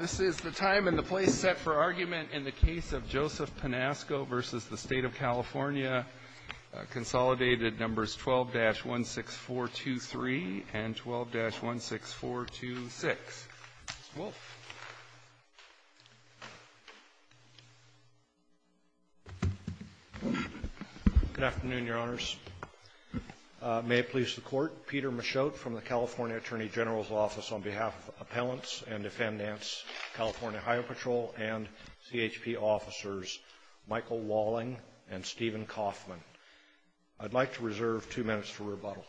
This is the time and the place set for argument in the case of Joseph Pinasco v. State of California, Consolidated Numbers 12-16423 and 12-16426. Mr. Wolfe. Good afternoon, Your Honors. May it please the Court, Peter Michotte from the California Attorney General's Office on behalf of Appellants and Defendants, California Highway Patrol and CHP Officers Michael Walling and Stephen Kaufman. I'd like to reserve two minutes for rebuttal.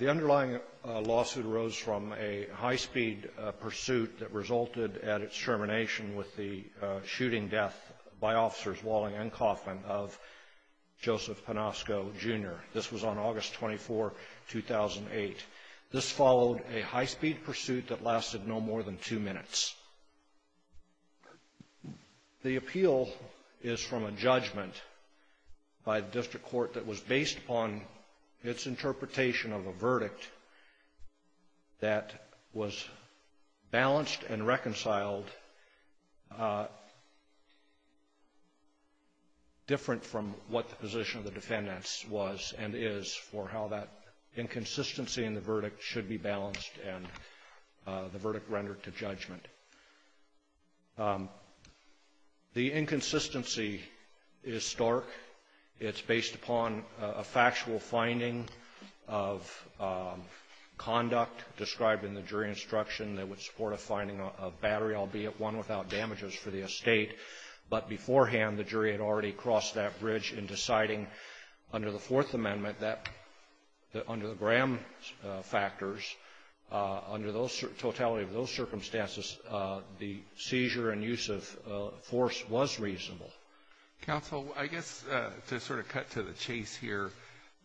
The underlying lawsuit arose from a high-speed pursuit that resulted at its termination with the shooting death by officers Walling and Kaufman of Joseph Pinasco, Jr. This was on August 24, 2008. This followed a high-speed pursuit that lasted no more than two minutes. The appeal is from a judgment by the district court that was based upon its interpretation of a verdict that was balanced and reconciled different from what the position of the defendants was and is for how that inconsistency in the verdict should be The inconsistency is stark. It's based upon a factual finding of conduct described in the jury instruction that would support a finding of battery, albeit one without damages for the estate. But beforehand, the jury had already crossed that bridge in deciding under the Fourth Amendment that under the Graham factors, under the totality of those circumstances, the seizure and use of force was reasonable. Counsel, I guess to sort of cut to the chase here,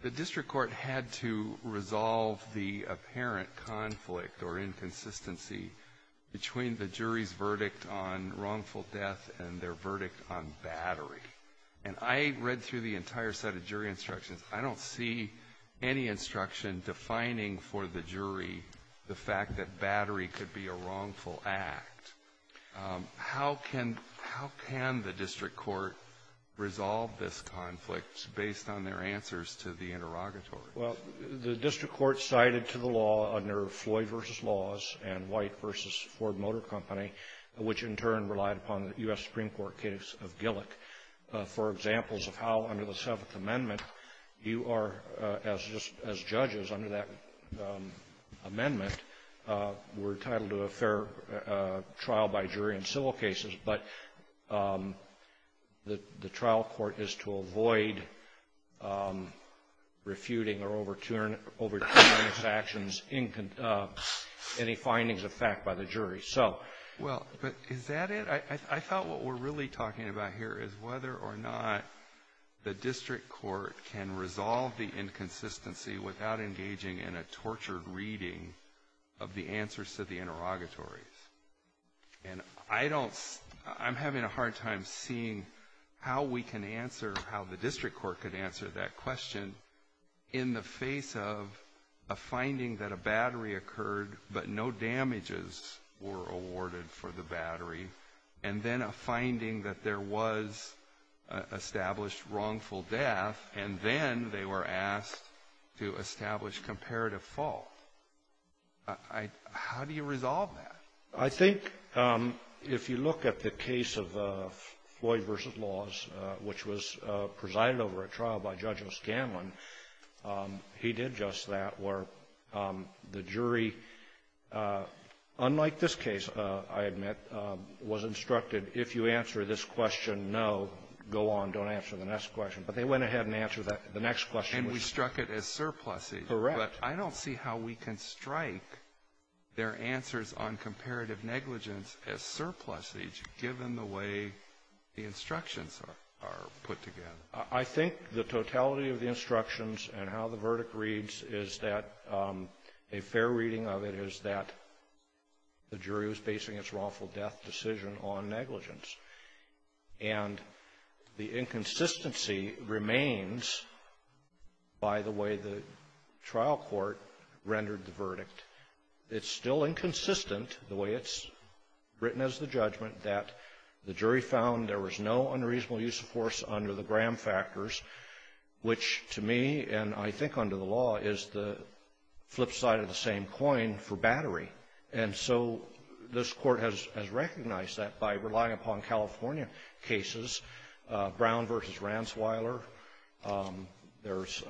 the district court had to resolve the apparent conflict or inconsistency between the jury's verdict on wrongful death and their verdict on battery. And I read through the entire set of jury instructions. I don't see any instruction defining for the jury the fact that battery could be a wrongful act. How can the district court resolve this conflict based on their answers to the interrogatory? Well, the district court cited to the law under Floyd v. Laws and White v. Ford Motor Company, which in turn relied upon the U.S. Supreme Court case of Gillick, for examples of how under the Seventh Amendment you are, as judges under that amendment, were entitled to a fair trial by jury in civil cases. But the trial court is to avoid refuting or overturning its actions in any findings of fact by the jury. So. Well, but is that it? I thought what we're really talking about here is whether or not the district court can resolve the inconsistency without engaging in a tortured reading of the answers to the interrogatories. And I don't, I'm having a hard time seeing how we can answer, how the district court could answer that question in the face of a finding that a battery occurred, but no damages were awarded for the battery, and then a finding that there was established wrongful death, and then they were asked to establish comparative fault. How do you resolve that? I think if you look at the case of Floyd v. Laws, which was presided over at trial by Judge O'Scanlan, he did just that, where the jury, unlike this case, I admit, was instructed, if you answer this question, no, go on, don't answer the next question. But they went ahead and answered the next question. And we struck it as surpluses. Correct. But I don't see how we can strike their answers on comparative negligence as surpluses, given the way the instructions are put together. I think the totality of the instructions and how the verdict reads is that a fair reading of it is that the jury was basing its wrongful death decision on negligence. And the inconsistency remains by the way the trial court rendered the verdict. It's still inconsistent, the way it's written as the judgment, that the jury found there was no unreasonable use of force under the Graham factors, which to me, and I think under the law, is the flip side of the same coin for battery. And so this Court has recognized that by relying upon California cases, Brown v. Ranzweiler. There's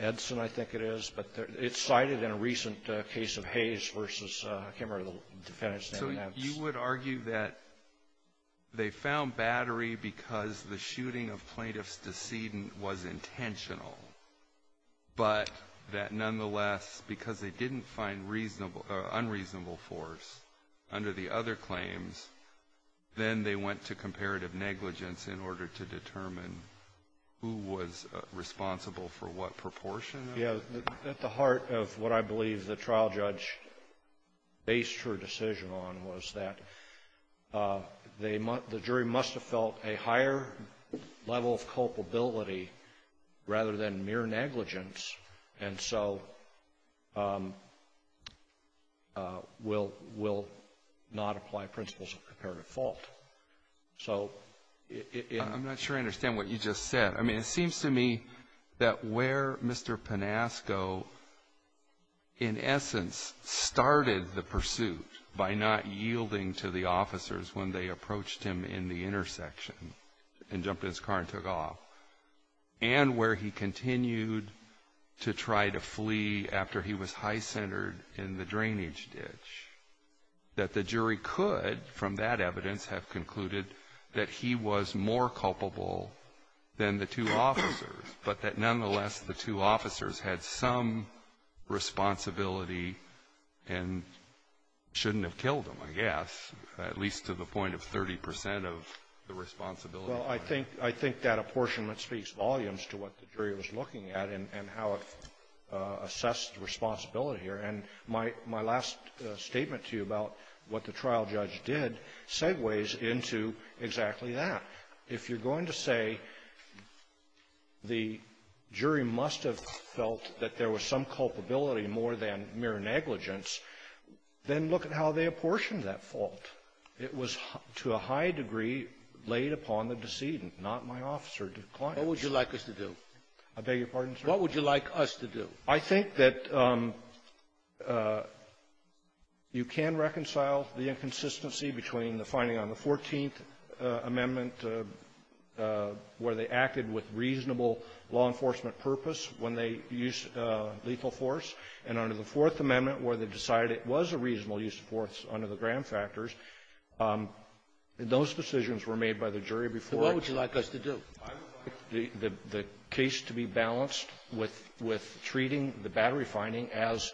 Edson, I think it is. But it's cited in a recent case of Hayes v. Kimmerer, the defendant's name is Edson. So you would argue that they found battery because the shooting of plaintiff's decedent was intentional, but that nonetheless, because they didn't find unreasonable force under the other claims, then they went to comparative negligence in order to determine who was responsible for what proportion? Yes. At the heart of what I believe the trial judge based her decision on was that the jury must have felt a higher level of culpability rather than mere negligence. And so we'll not apply principles of comparative fault. I'm not sure I understand what you just said. I mean, it seems to me that where Mr. Panasco, in essence, started the pursuit by not yielding to the officers when they approached him in the intersection and jumped in his car and took off, and where he continued to try to flee after he was high-centered in the drainage ditch, that the jury could, from that evidence, have concluded that he was more culpable than the two officers, but that nonetheless, the two officers had some responsibility and shouldn't have killed him, I guess, at least to the point of 30 percent of the responsibility. Well, I think that apportionment speaks volumes to what the jury was looking at and how it assessed responsibility here. And my last statement to you about what the trial judge did segues into exactly that. If you're going to say the jury must have felt that there was some culpability more than mere negligence, then look at how they apportioned that fault. It was, to a high degree, laid upon the decedent, not my officer, the client. Scalia. What would you like us to do? Panasco. I beg your pardon, sir? Scalia. What would you like us to do? Panasco. I think that you can reconcile the inconsistency between the finding on the Fourteenth Amendment, where they acted with reasonable law enforcement purpose when they used lethal force, and under the Fourth Amendment, where they decided it was a reasonable use of force under the Graham factors. Those decisions were made by the jury before the case to be balanced with the case to be balanced with treating the battery finding as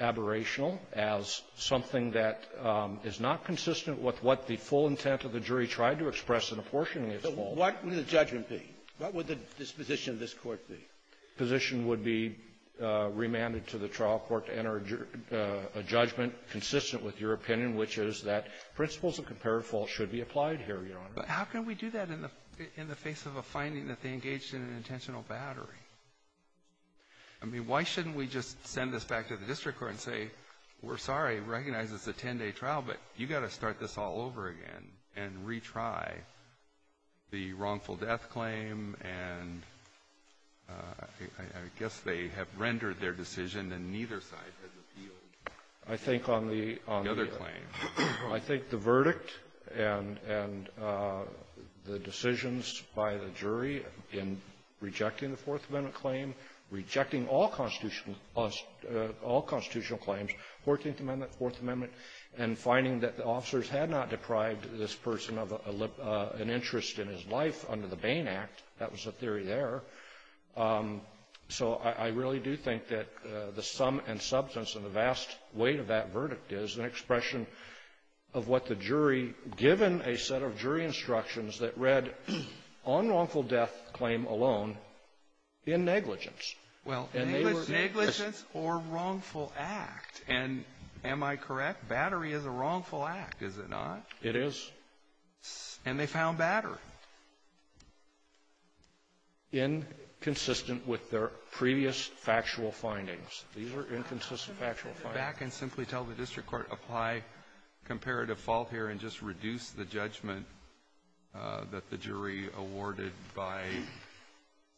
aberrational, as something that is not consistent with what the full intent of the jury tried to express in apportioning its fault. Scalia. What would the judgment be? What would the disposition of this Court be? Panasco. The disposition would be remanded to the trial court to enter a judgment consistent with your opinion, which is that principles of comparative fault should be applied here, Your Honor. Alito. But how can we do that in the face of a finding that they engaged in an intentional battery? I mean, why shouldn't we just send this back to the district court and say, we're sorry, recognize it's a 10-day trial, but you've got to start this all over again, and retry the wrongful death claim, and I guess they have rendered their decision, and neither side has appealed the other claim. Panasco. I think on the verdict and the decisions by the jury in rejecting the Fourth Amendment claim, rejecting all constitutional claims, Fourteenth Amendment, Fourth Amendment, and finding that the officers had not deprived the jury of the this person of an interest in his life under the Bain Act, that was a theory there. So I really do think that the sum and substance and the vast weight of that verdict is an expression of what the jury, given a set of jury instructions, that read, on wrongful death claim alone, in negligence. And they were the others. Well, negligence or wrongful act. And am I correct? Battery is a wrongful act, is it not? It is. And they found battery. Inconsistent with their previous factual findings. These are inconsistent factual findings. Go back and simply tell the district court, apply comparative fault here and just reduce the judgment that the jury awarded by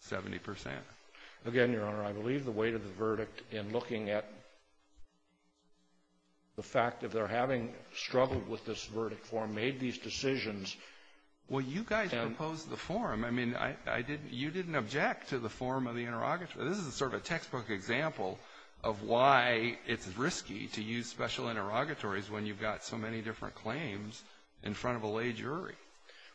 70 percent. Again, Your Honor, I believe the weight of the verdict in looking at the fact that they're having struggled with this verdict form, made these decisions. Well, you guys proposed the form. I mean, I didn't – you didn't object to the form of the interrogatory. This is sort of a textbook example of why it's risky to use special interrogatories when you've got so many different claims in front of a lay jury.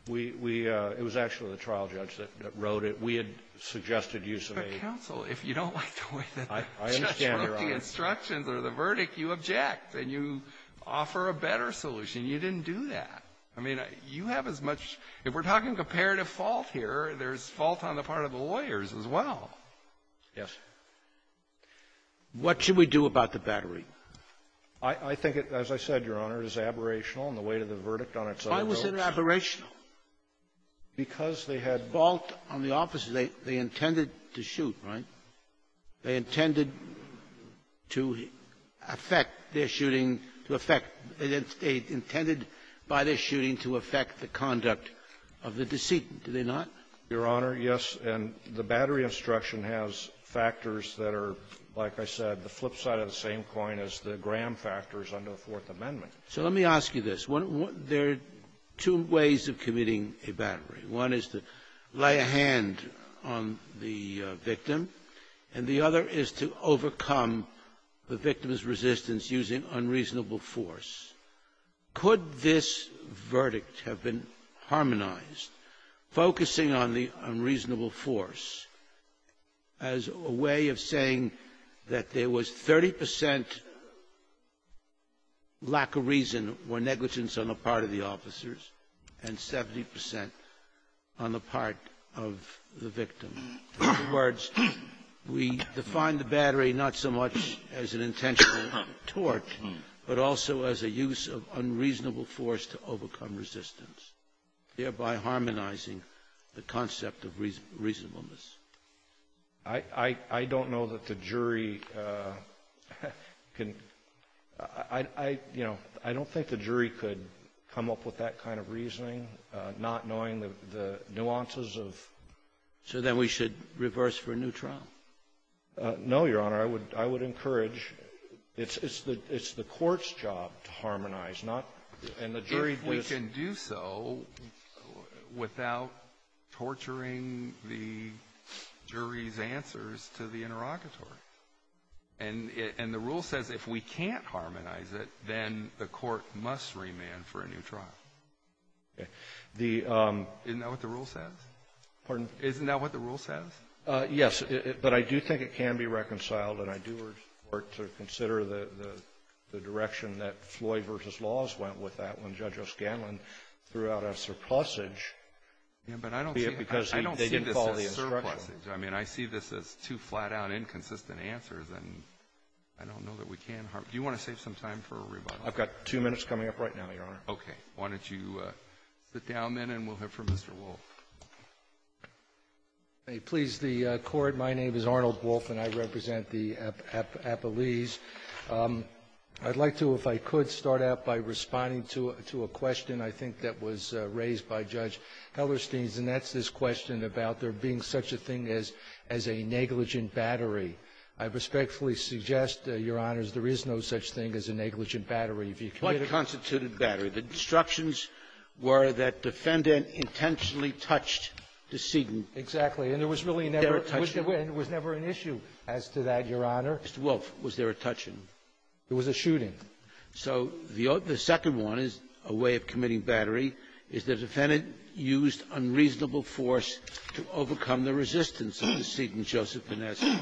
We – we – it was actually the trial judge that wrote it. We had suggested use of a – But, counsel, if you don't like the way that the judge wrote the instructions or the verdict, you object. And you offer a better solution. You didn't do that. I mean, you have as much – if we're talking comparative fault here, there's fault on the part of the lawyers as well. Yes. What should we do about the battery? I think it, as I said, Your Honor, is aberrational in the weight of the verdict on its other notes. Why was it aberrational? Because they had – Fault on the officers. They – they intended to shoot, right? They intended to affect their shooting to affect – they intended by their shooting to affect the conduct of the decedent, did they not? Your Honor, yes. And the battery instruction has factors that are, like I said, the flip side of the same coin as the Graham factors under the Fourth Amendment. So let me ask you this. One – there are two ways of committing a battery. One is to lay a hand on the victim, and the other is to overcome the victim's resistance using unreasonable force. Could this verdict have been harmonized, focusing on the unreasonable force as a way of saying that there was 30 percent lack of reason or negligence on the part of the officers and 70 percent on the part of the victim? In other words, we define the battery not so much as an intentional torch, but also as a use of unreasonable force to overcome resistance, thereby harmonizing the concept of reasonableness. I don't know that the jury can – I, you know, I don't think the jury could come up with that kind of reasoning, not knowing the nuances of – So then we should reverse for a new trial? No, Your Honor. I would encourage – it's the court's job to harmonize, not – and the jury If we can do so without torturing the jury's answers to the interrogatory. And the rule says if we can't harmonize it, then the court must remand for a new trial. Isn't that what the rule says? Pardon? Isn't that what the rule says? Yes. But I do think it can be reconciled, and I do urge the Court to consider the direction that Floyd v. Laws went with that when Judge O'Scanlan threw out a surplusage. Yeah, but I don't see it because they didn't call it a surplusage. I mean, I see this as two flat-out inconsistent answers, and I don't know that we can harm – do you want to save some time for a rebuttal? I've got two minutes coming up right now, Your Honor. Okay. Why don't you sit down, then, and we'll hear from Mr. Wolff. Please. The Court, my name is Arnold Wolff, and I represent the Appalese. I'd like to, if I could, start out by responding to a question I think that was raised by Judge Hellerstein's, and that's this question about there being such a thing as a negligent battery. I respectfully suggest, Your Honors, there is no such thing as a negligent battery. If you commit a – What constituted battery? The instructions were that defendant intentionally touched the seating. Exactly. And there was really never – Was there a touch? And there was never an issue as to that, Your Honor. Mr. Wolff, was there a touching? There was a shooting. So the second one is a way of committing battery is the defendant used unreasonable force to overcome the resistance of the seating, Joseph Vinessi.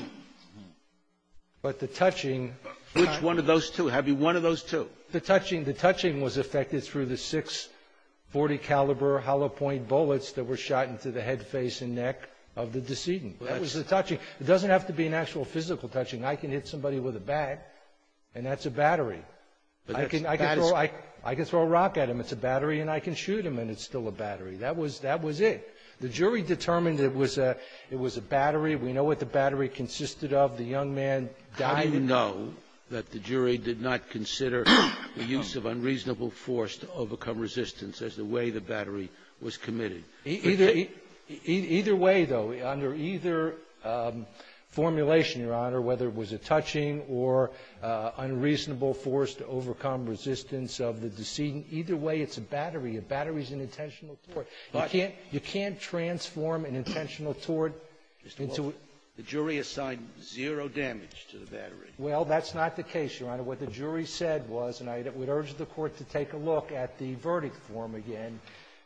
But the touching – Which one of those two? Have you one of those two? The touching – the touching was effected through the six .40 caliber hollow-point bullets that were shot into the head, face, and neck of the decedent. That was the touching. It doesn't have to be an actual physical touching. I can hit somebody with a bat, and that's a battery. I can throw a rock at him. It's a battery, and I can shoot him, and it's still a battery. That was – that was it. The jury determined it was a – it was a battery. We know what the battery consisted of. The young man died with it. How do you know that the jury did not consider the use of unreasonable force to overcome resistance as the way the battery was committed? Either – either way, though, under either formulation, Your Honor, whether it was a touching or unreasonable force to overcome resistance of the decedent, either way, it's a battery. A battery is an intentional tort. You can't – you can't transform an intentional tort into a – Mr. Wolf, the jury assigned zero damage to the battery. Well, that's not the case, Your Honor. What the jury said was, and I would urge the Court to take a look at the verdict form again,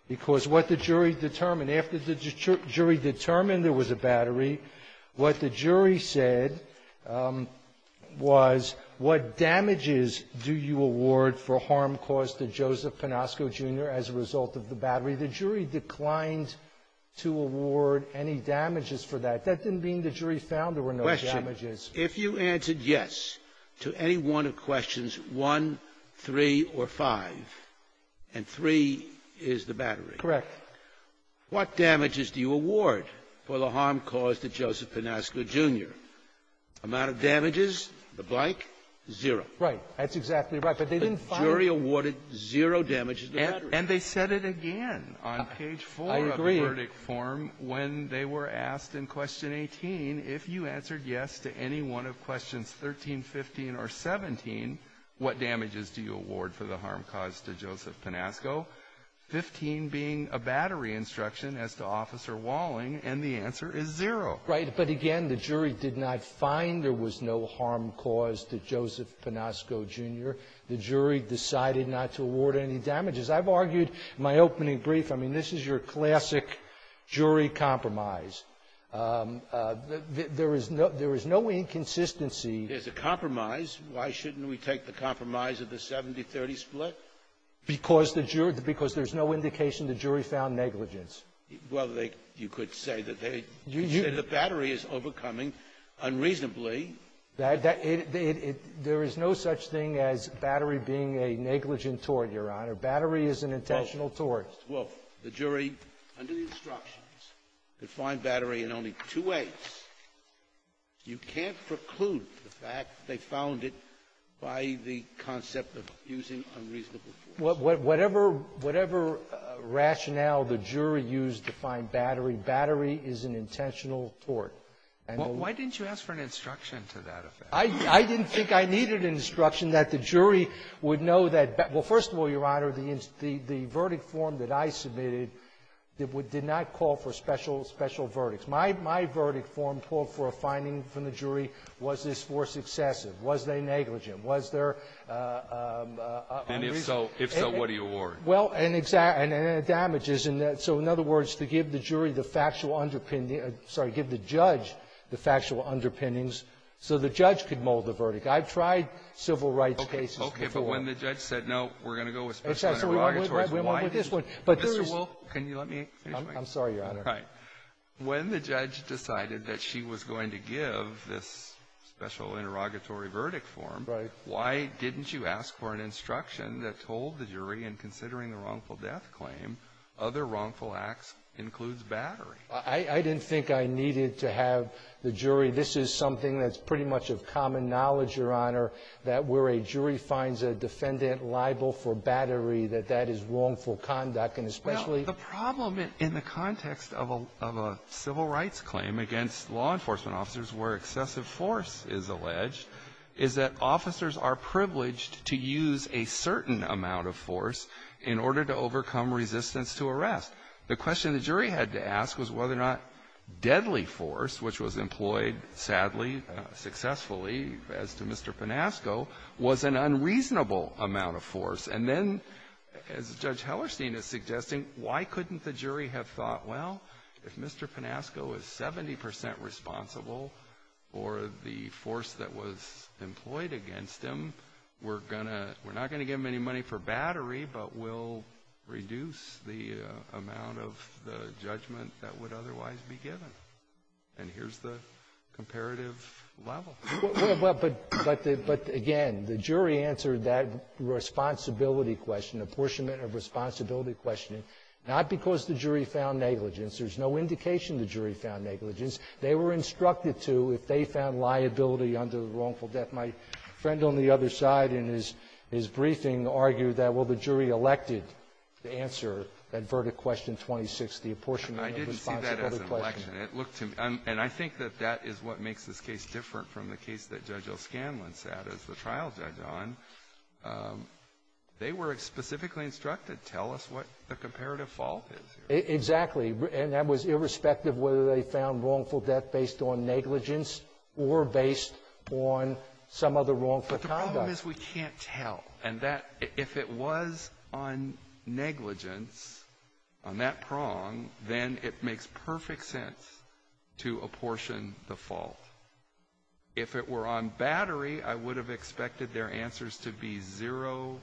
because what the jury determined, after the jury determined there was a was, what damages do you award for harm caused to Joseph Panosco, Jr. as a result of the battery? The jury declined to award any damages for that. That didn't mean the jury found there were no damages. If you answered yes to any one of questions 1, 3, or 5, and 3 is the battery. Correct. What damages do you award for the harm caused to Joseph Panosco, Jr.? Amount of damages, the blank, zero. Right. That's exactly right. But they didn't find – The jury awarded zero damages to the battery. And they said it again on page 4 of the verdict form when they were asked in question 18, if you answered yes to any one of questions 13, 15, or 17, what damages do you award for the harm caused to Joseph Panosco, 15 being a battery instruction as to Officer Walling, and the answer is zero. Right. But again, the jury did not find there was no harm caused to Joseph Panosco, Jr. The jury decided not to award any damages. I've argued my opening brief. I mean, this is your classic jury compromise. There is no inconsistency. There's a compromise. Why shouldn't we take the compromise of the 70-30 split? Because there's no indication the jury found negligence. Well, you could say that they said the battery is overcoming unreasonably. There is no such thing as battery being a negligent tort, Your Honor. Battery is an intentional tort. Well, the jury, under the instructions, could find battery in only two ways. You can't preclude the fact they found it by the concept of using unreasonable force. Whatever rationale the jury used to find battery, battery is an intentional tort. Why didn't you ask for an instruction to that effect? I didn't think I needed an instruction that the jury would know that — well, first of all, Your Honor, the verdict form that I submitted did not call for special verdicts. My verdict form called for a finding from the jury, was this force excessive? Was they negligent? Was there unreasonable? And if so, what do you award? Well, and it damages. And so, in other words, to give the jury the factual underpinning — sorry, give the judge the factual underpinnings so the judge could mold the verdict. I've tried civil rights cases before. Okay. But when the judge said, no, we're going to go with special interrogatory form, why didn't you? Mr. Wolf, can you let me explain? I'm sorry, Your Honor. Right. When the judge decided that she was going to give this special interrogatory verdict form, why didn't you ask for an instruction that told the jury, in considering the wrongful death claim, other wrongful acts includes battery? I didn't think I needed to have the jury. This is something that's pretty much of common knowledge, Your Honor, that where a jury finds a defendant liable for battery, that that is wrongful conduct, and especially — Well, the problem in the context of a civil rights claim against law enforcement officers where excessive force is alleged is that officers are privileged to use a certain amount of force in order to overcome resistance to arrest. The question the jury had to ask was whether or not deadly force, which was employed, sadly, successfully, as to Mr. Panasco, was an unreasonable amount of force. And then, as Judge Hellerstein is suggesting, why couldn't the jury have thought, well, if Mr. Panasco is 70 percent responsible for the force that was employed against him, we're going to — we're not going to give him any money for battery, but we'll reduce the amount of the judgment that would otherwise be given. And here's the comparative level. Well, but again, the jury answered that responsibility question, apportionment of responsibility questioning, not because the jury found negligence. There's no indication the jury found negligence. They were instructed to, if they found liability under the wrongful death. My friend on the other side in his briefing argued that, well, the jury elected to answer that verdict question 26, the apportionment of responsibility questioning. I didn't see that as an election. It looked to me — and I think that that is what makes this case different from the case that Judge O'Scanlan sat as the trial judge on. They were specifically instructed, tell us what the comparative fault is here. Exactly. And that was irrespective whether they found wrongful death based on negligence or based on some other wrongful conduct. But the problem is we can't tell. And that — if it was on negligence, on that prong, then it makes perfect sense to apportion the fault. If it were on battery, I would have expected their answers to be zero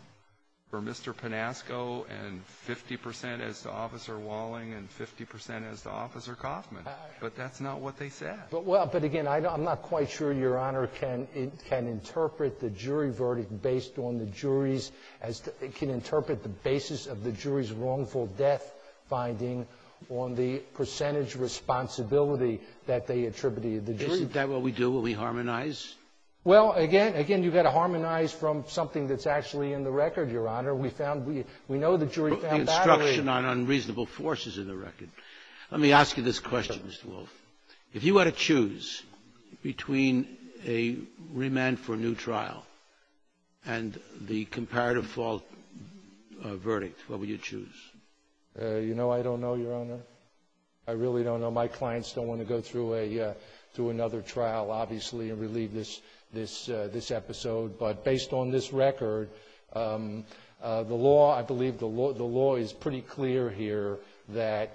for Mr. Panasco and 50 percent as to Officer Walling and 50 percent as to Officer Kaufman. But that's not what they said. Well, but again, I'm not quite sure Your Honor can interpret the jury verdict based on the jury's — can interpret the basis of the jury's wrongful death finding on the percentage responsibility that they attributed to the jury. Isn't that what we do when we harmonize? Well, again — again, you've got to harmonize from something that's actually in the record, Your Honor. We found — we know the jury found battery — But the instruction on unreasonable force is in the record. Let me ask you this question, Mr. Wolf. If you were to choose between a remand for a new trial and the comparative fault verdict, what would you choose? You know, I don't know, Your Honor. I really don't know. My clients don't want to go through a — through another trial, obviously, and relieve this episode. But based on this record, the law — I believe the law is pretty clear here that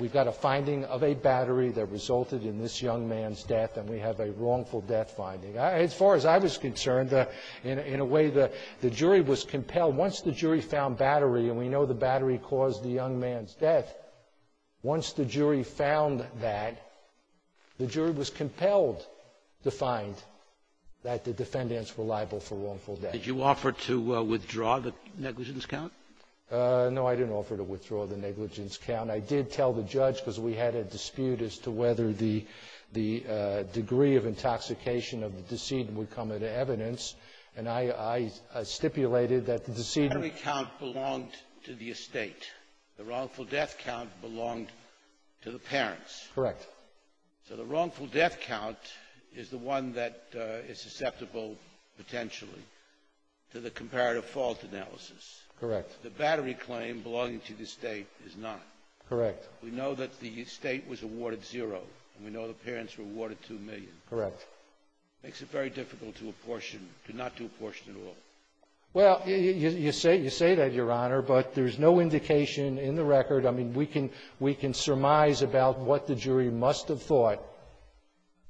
we've got a finding of a battery that resulted in this young man's death, and we have a wrongful death finding. As far as I was concerned, in a way, the jury was compelled — once the jury found battery, and we know the battery caused the young man's death, once the jury found that, the jury was compelled to find that the defendants were liable for wrongful death. Did you offer to withdraw the negligence count? No, I didn't offer to withdraw the negligence count. I did tell the judge, because we had a dispute as to whether the degree of intoxication of the decedent would come into evidence, and I stipulated that the decedent — Every count belonged to the estate. The wrongful death count belonged to the parents. Correct. So the wrongful death count is the one that is susceptible, potentially, to the comparative fault analysis. Correct. The battery claim belonging to the estate is not. Correct. We know that the estate was awarded zero, and we know the parents were awarded two million. Correct. It makes it very difficult to apportion — to not do apportion at all. Well, you say — you say that, Your Honor, but there's no indication in the record — I mean, we can — we can surmise about what the jury must have thought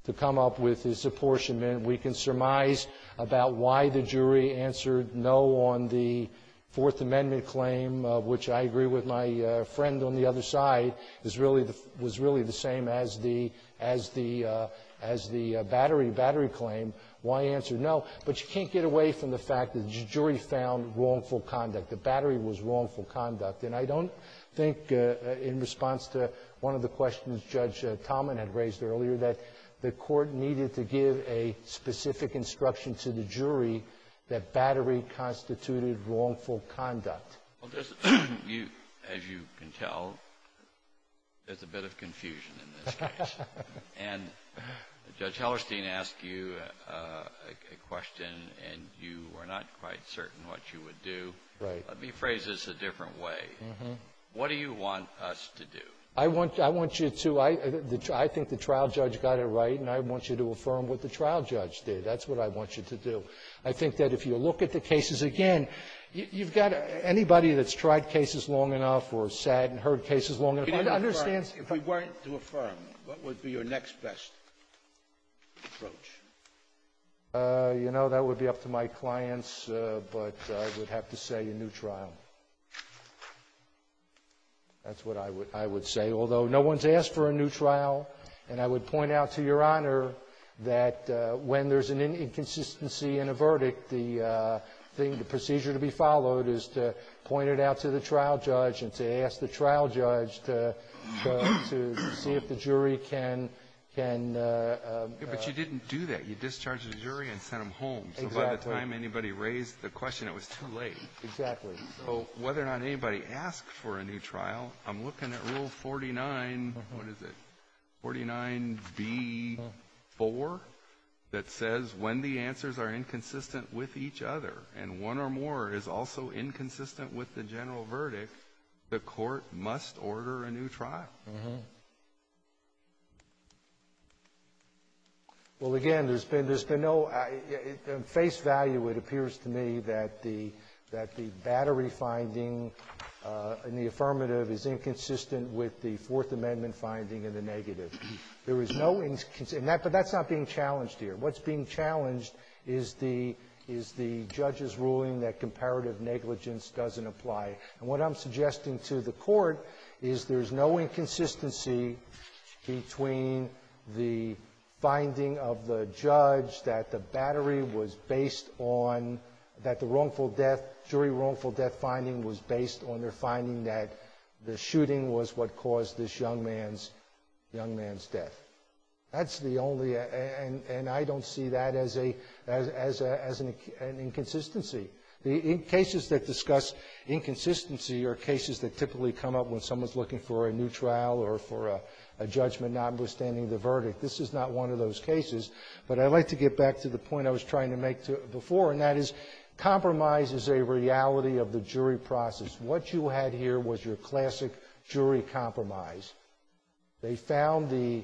to come up with this apportionment. We can surmise about why the jury answered no on the Fourth Amendment claim, which I agree with my friend on the other side, is really — was really the same as the — as the — as the battery — battery claim. Why answer no? But you can't get away from the fact that the jury found wrongful conduct. The battery was wrongful conduct. And I don't think, in response to one of the questions Judge Talman had raised earlier, that the Court needed to give a specific instruction to the jury that battery constituted wrongful conduct. Well, there's — you — as you can tell, there's a bit of confusion in this case. And Judge Hellerstein asked you a question, and you were not quite certain what you would do. Right. Let me phrase this a different way. Mm-hmm. What do you want us to do? I want — I want you to — I think the trial judge got it right, and I want you to affirm what the trial judge did. That's what I want you to do. I think that if you look at the cases again, you've got — anybody that's tried cases long enough or sat and heard cases long enough understands — If we weren't to affirm, what would be your next best approach? You know, that would be up to my clients, but I would have to say a new trial. That's what I would — I would say, although no one's asked for a new trial. And I would point out to Your Honor that when there's an inconsistency in a verdict, the thing — the procedure to be followed is to point it out to the trial judge and to ask the trial judge to — to see if the jury can — can — But you didn't do that. You discharged the jury and sent them home. Exactly. So by the time anybody raised the question, it was too late. Exactly. So whether or not anybody asked for a new trial, I'm looking at Rule 49 — what is it — 49B-4 that says when the answers are inconsistent with each other, and one or more is also inconsistent with the general verdict, the court must order a new trial? Well, again, there's been — there's been no — at face value, it appears to me that the — that the battery finding in the affirmative is inconsistent with the Fourth Amendment finding in the negative. There is no — but that's not being challenged here. What's being challenged is the — is the judge's ruling that comparative negligence doesn't apply. And what I'm suggesting to the court is there's no inconsistency between the finding of the judge that the battery was based on — that the wrongful death — jury wrongful death finding was based on their finding that the shooting was what caused this young man's — young man's death. That's the only — and I don't see that as a — as an inconsistency. The cases that discuss inconsistency are cases that typically come up when someone's looking for a new trial or for a judgment notwithstanding the verdict. This is not one of those cases. But I'd like to get back to the point I was trying to make before, and that is compromise is a reality of the jury process. What you had here was your classic jury compromise. They found the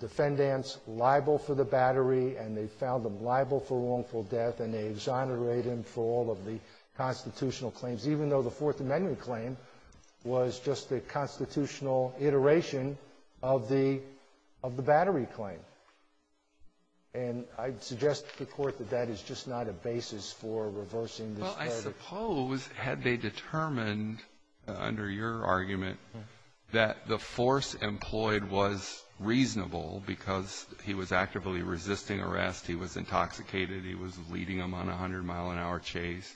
defendant's liable for the battery, and they found him liable for wrongful death, and they exonerated him for all of the constitutional claims, even though the Fourth Amendment claim was just a constitutional iteration of the — of the battery claim. And I'd suggest to the court that that is just not a basis for reversing this verdict. Had they determined, under your argument, that the force employed was reasonable because he was actively resisting arrest, he was intoxicated, he was leading them on a 100-mile-an-hour chase,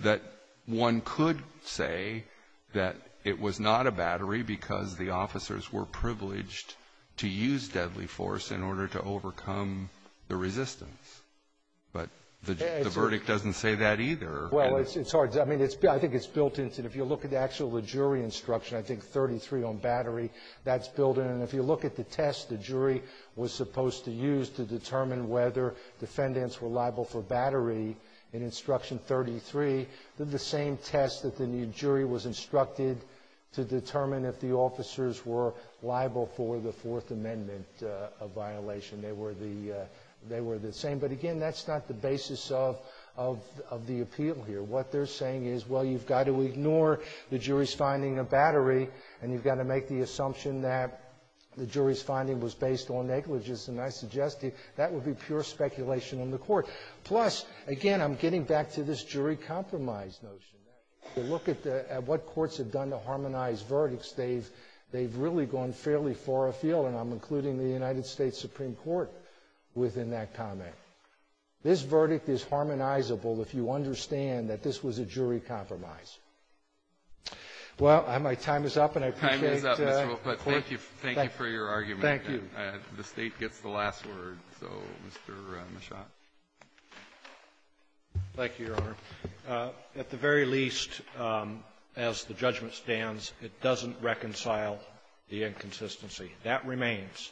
that one could say that it was not a battery because the officers were privileged to use deadly force in order to overcome the resistance. But the verdict doesn't say that either. Well, it's hard. I mean, I think it's built into — if you look at the actual jury instruction, I think 33 on battery, that's built in. And if you look at the test the jury was supposed to use to determine whether defendants were liable for battery in Instruction 33, they're the same test that the jury was instructed to determine if the officers were liable for the Fourth Amendment violation. They were the — they were the same. But again, that's not the basis of the appeal here. What they're saying is, well, you've got to ignore the jury's finding of battery, and you've got to make the assumption that the jury's finding was based on negligence. And I suggest to you that would be pure speculation on the court. Plus, again, I'm getting back to this jury compromise notion. If you look at what courts have done to harmonize verdicts, they've really gone fairly far afield. And I'm including the United States Supreme Court within that comment. This verdict is harmonizable if you understand that this was a jury compromise. Well, my time is up, and I appreciate the court — Time is up, Mr. Wolf. But thank you — thank you for your argument. Thank you. The State gets the last word. So, Mr. Mishra. Thank you, Your Honor. At the very least, as the judgment stands, it doesn't reconcile the inconsistency. That remains.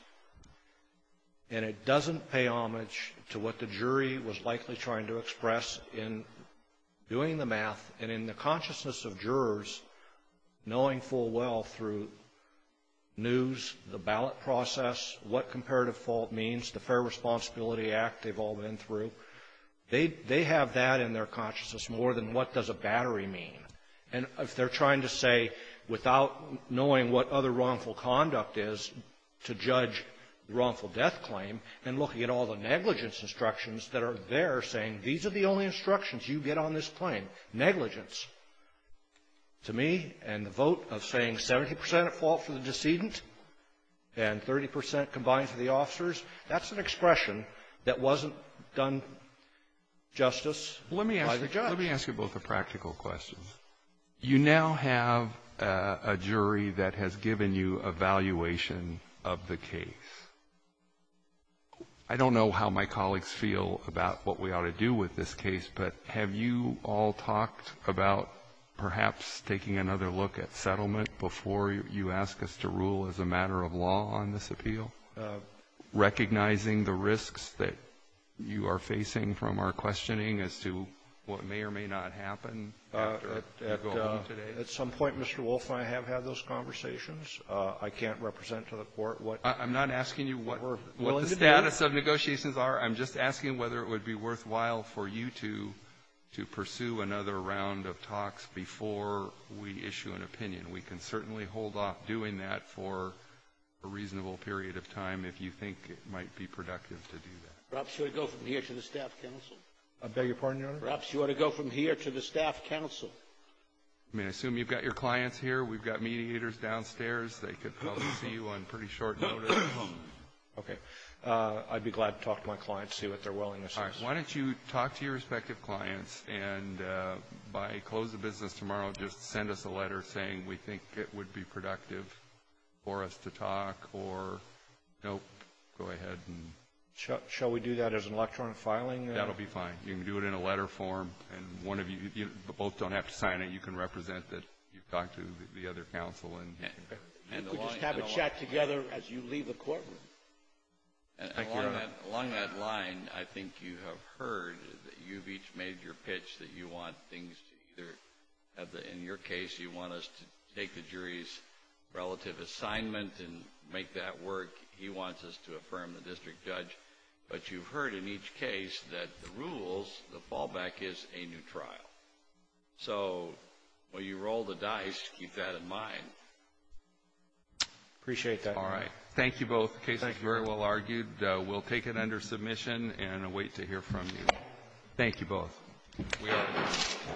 And it doesn't pay homage to what the jury was likely trying to express in doing the math and in the consciousness of jurors, knowing full well through news, the ballot process, what comparative fault means, the Fair Responsibility Act they've all been through, they have that in their consciousness more than what does a battery mean. And if they're trying to say, without knowing what other wrongful conduct is, to judge the wrongful death claim, and looking at all the negligence instructions that are there saying, these are the only instructions you get on this claim, negligence, to me, and the vote of saying 70 percent at fault for the decedent and 30 percent combined for the done justice by the judge. Let me ask you both a practical question. You now have a jury that has given you a valuation of the case. I don't know how my colleagues feel about what we ought to do with this case, but have you all talked about perhaps taking another look at settlement before you ask us to rule as a matter of law on this appeal? Recognizing the risks that you are facing from our questioning as to what may or may not happen after you go home today? At some point, Mr. Wolf, I have had those conversations. I can't represent to the Court what we're willing to do. I'm not asking you what the status of negotiations are. I'm just asking whether it would be worthwhile for you to pursue another round of talks before we issue an opinion. We can certainly hold off doing that for a reasonable period of time if you think it might be productive to do that. Perhaps you ought to go from here to the staff council. I beg your pardon, Your Honor? Perhaps you ought to go from here to the staff council. I mean, I assume you've got your clients here. We've got mediators downstairs. They could probably see you on pretty short notice. Okay. I'd be glad to talk to my clients, see what their willingness is. All right. Why don't you talk to your respective clients, and by close of business tomorrow, just send us a letter saying we think it would be productive for us to talk, or no, go ahead and — Shall we do that as an electronic filing? That'll be fine. You can do it in a letter form, and one of you — you both don't have to sign it. You can represent it. You talk to the other counsel, and — You could just have a chat together as you leave the courtroom. Thank you, Your Honor. Along that line, I think you have heard that you've each made your pitch that you want things to either — in your case, you want us to take the jury's relative assignment and make that work. He wants us to affirm the district judge, but you've heard in each case that the rules, the fallback is a new trial. So, while you roll the dice, keep that in mind. Appreciate that. All right. Thank you both. The case is very well argued. We'll take it under submission and await to hear from you. Thank you both. Thank you.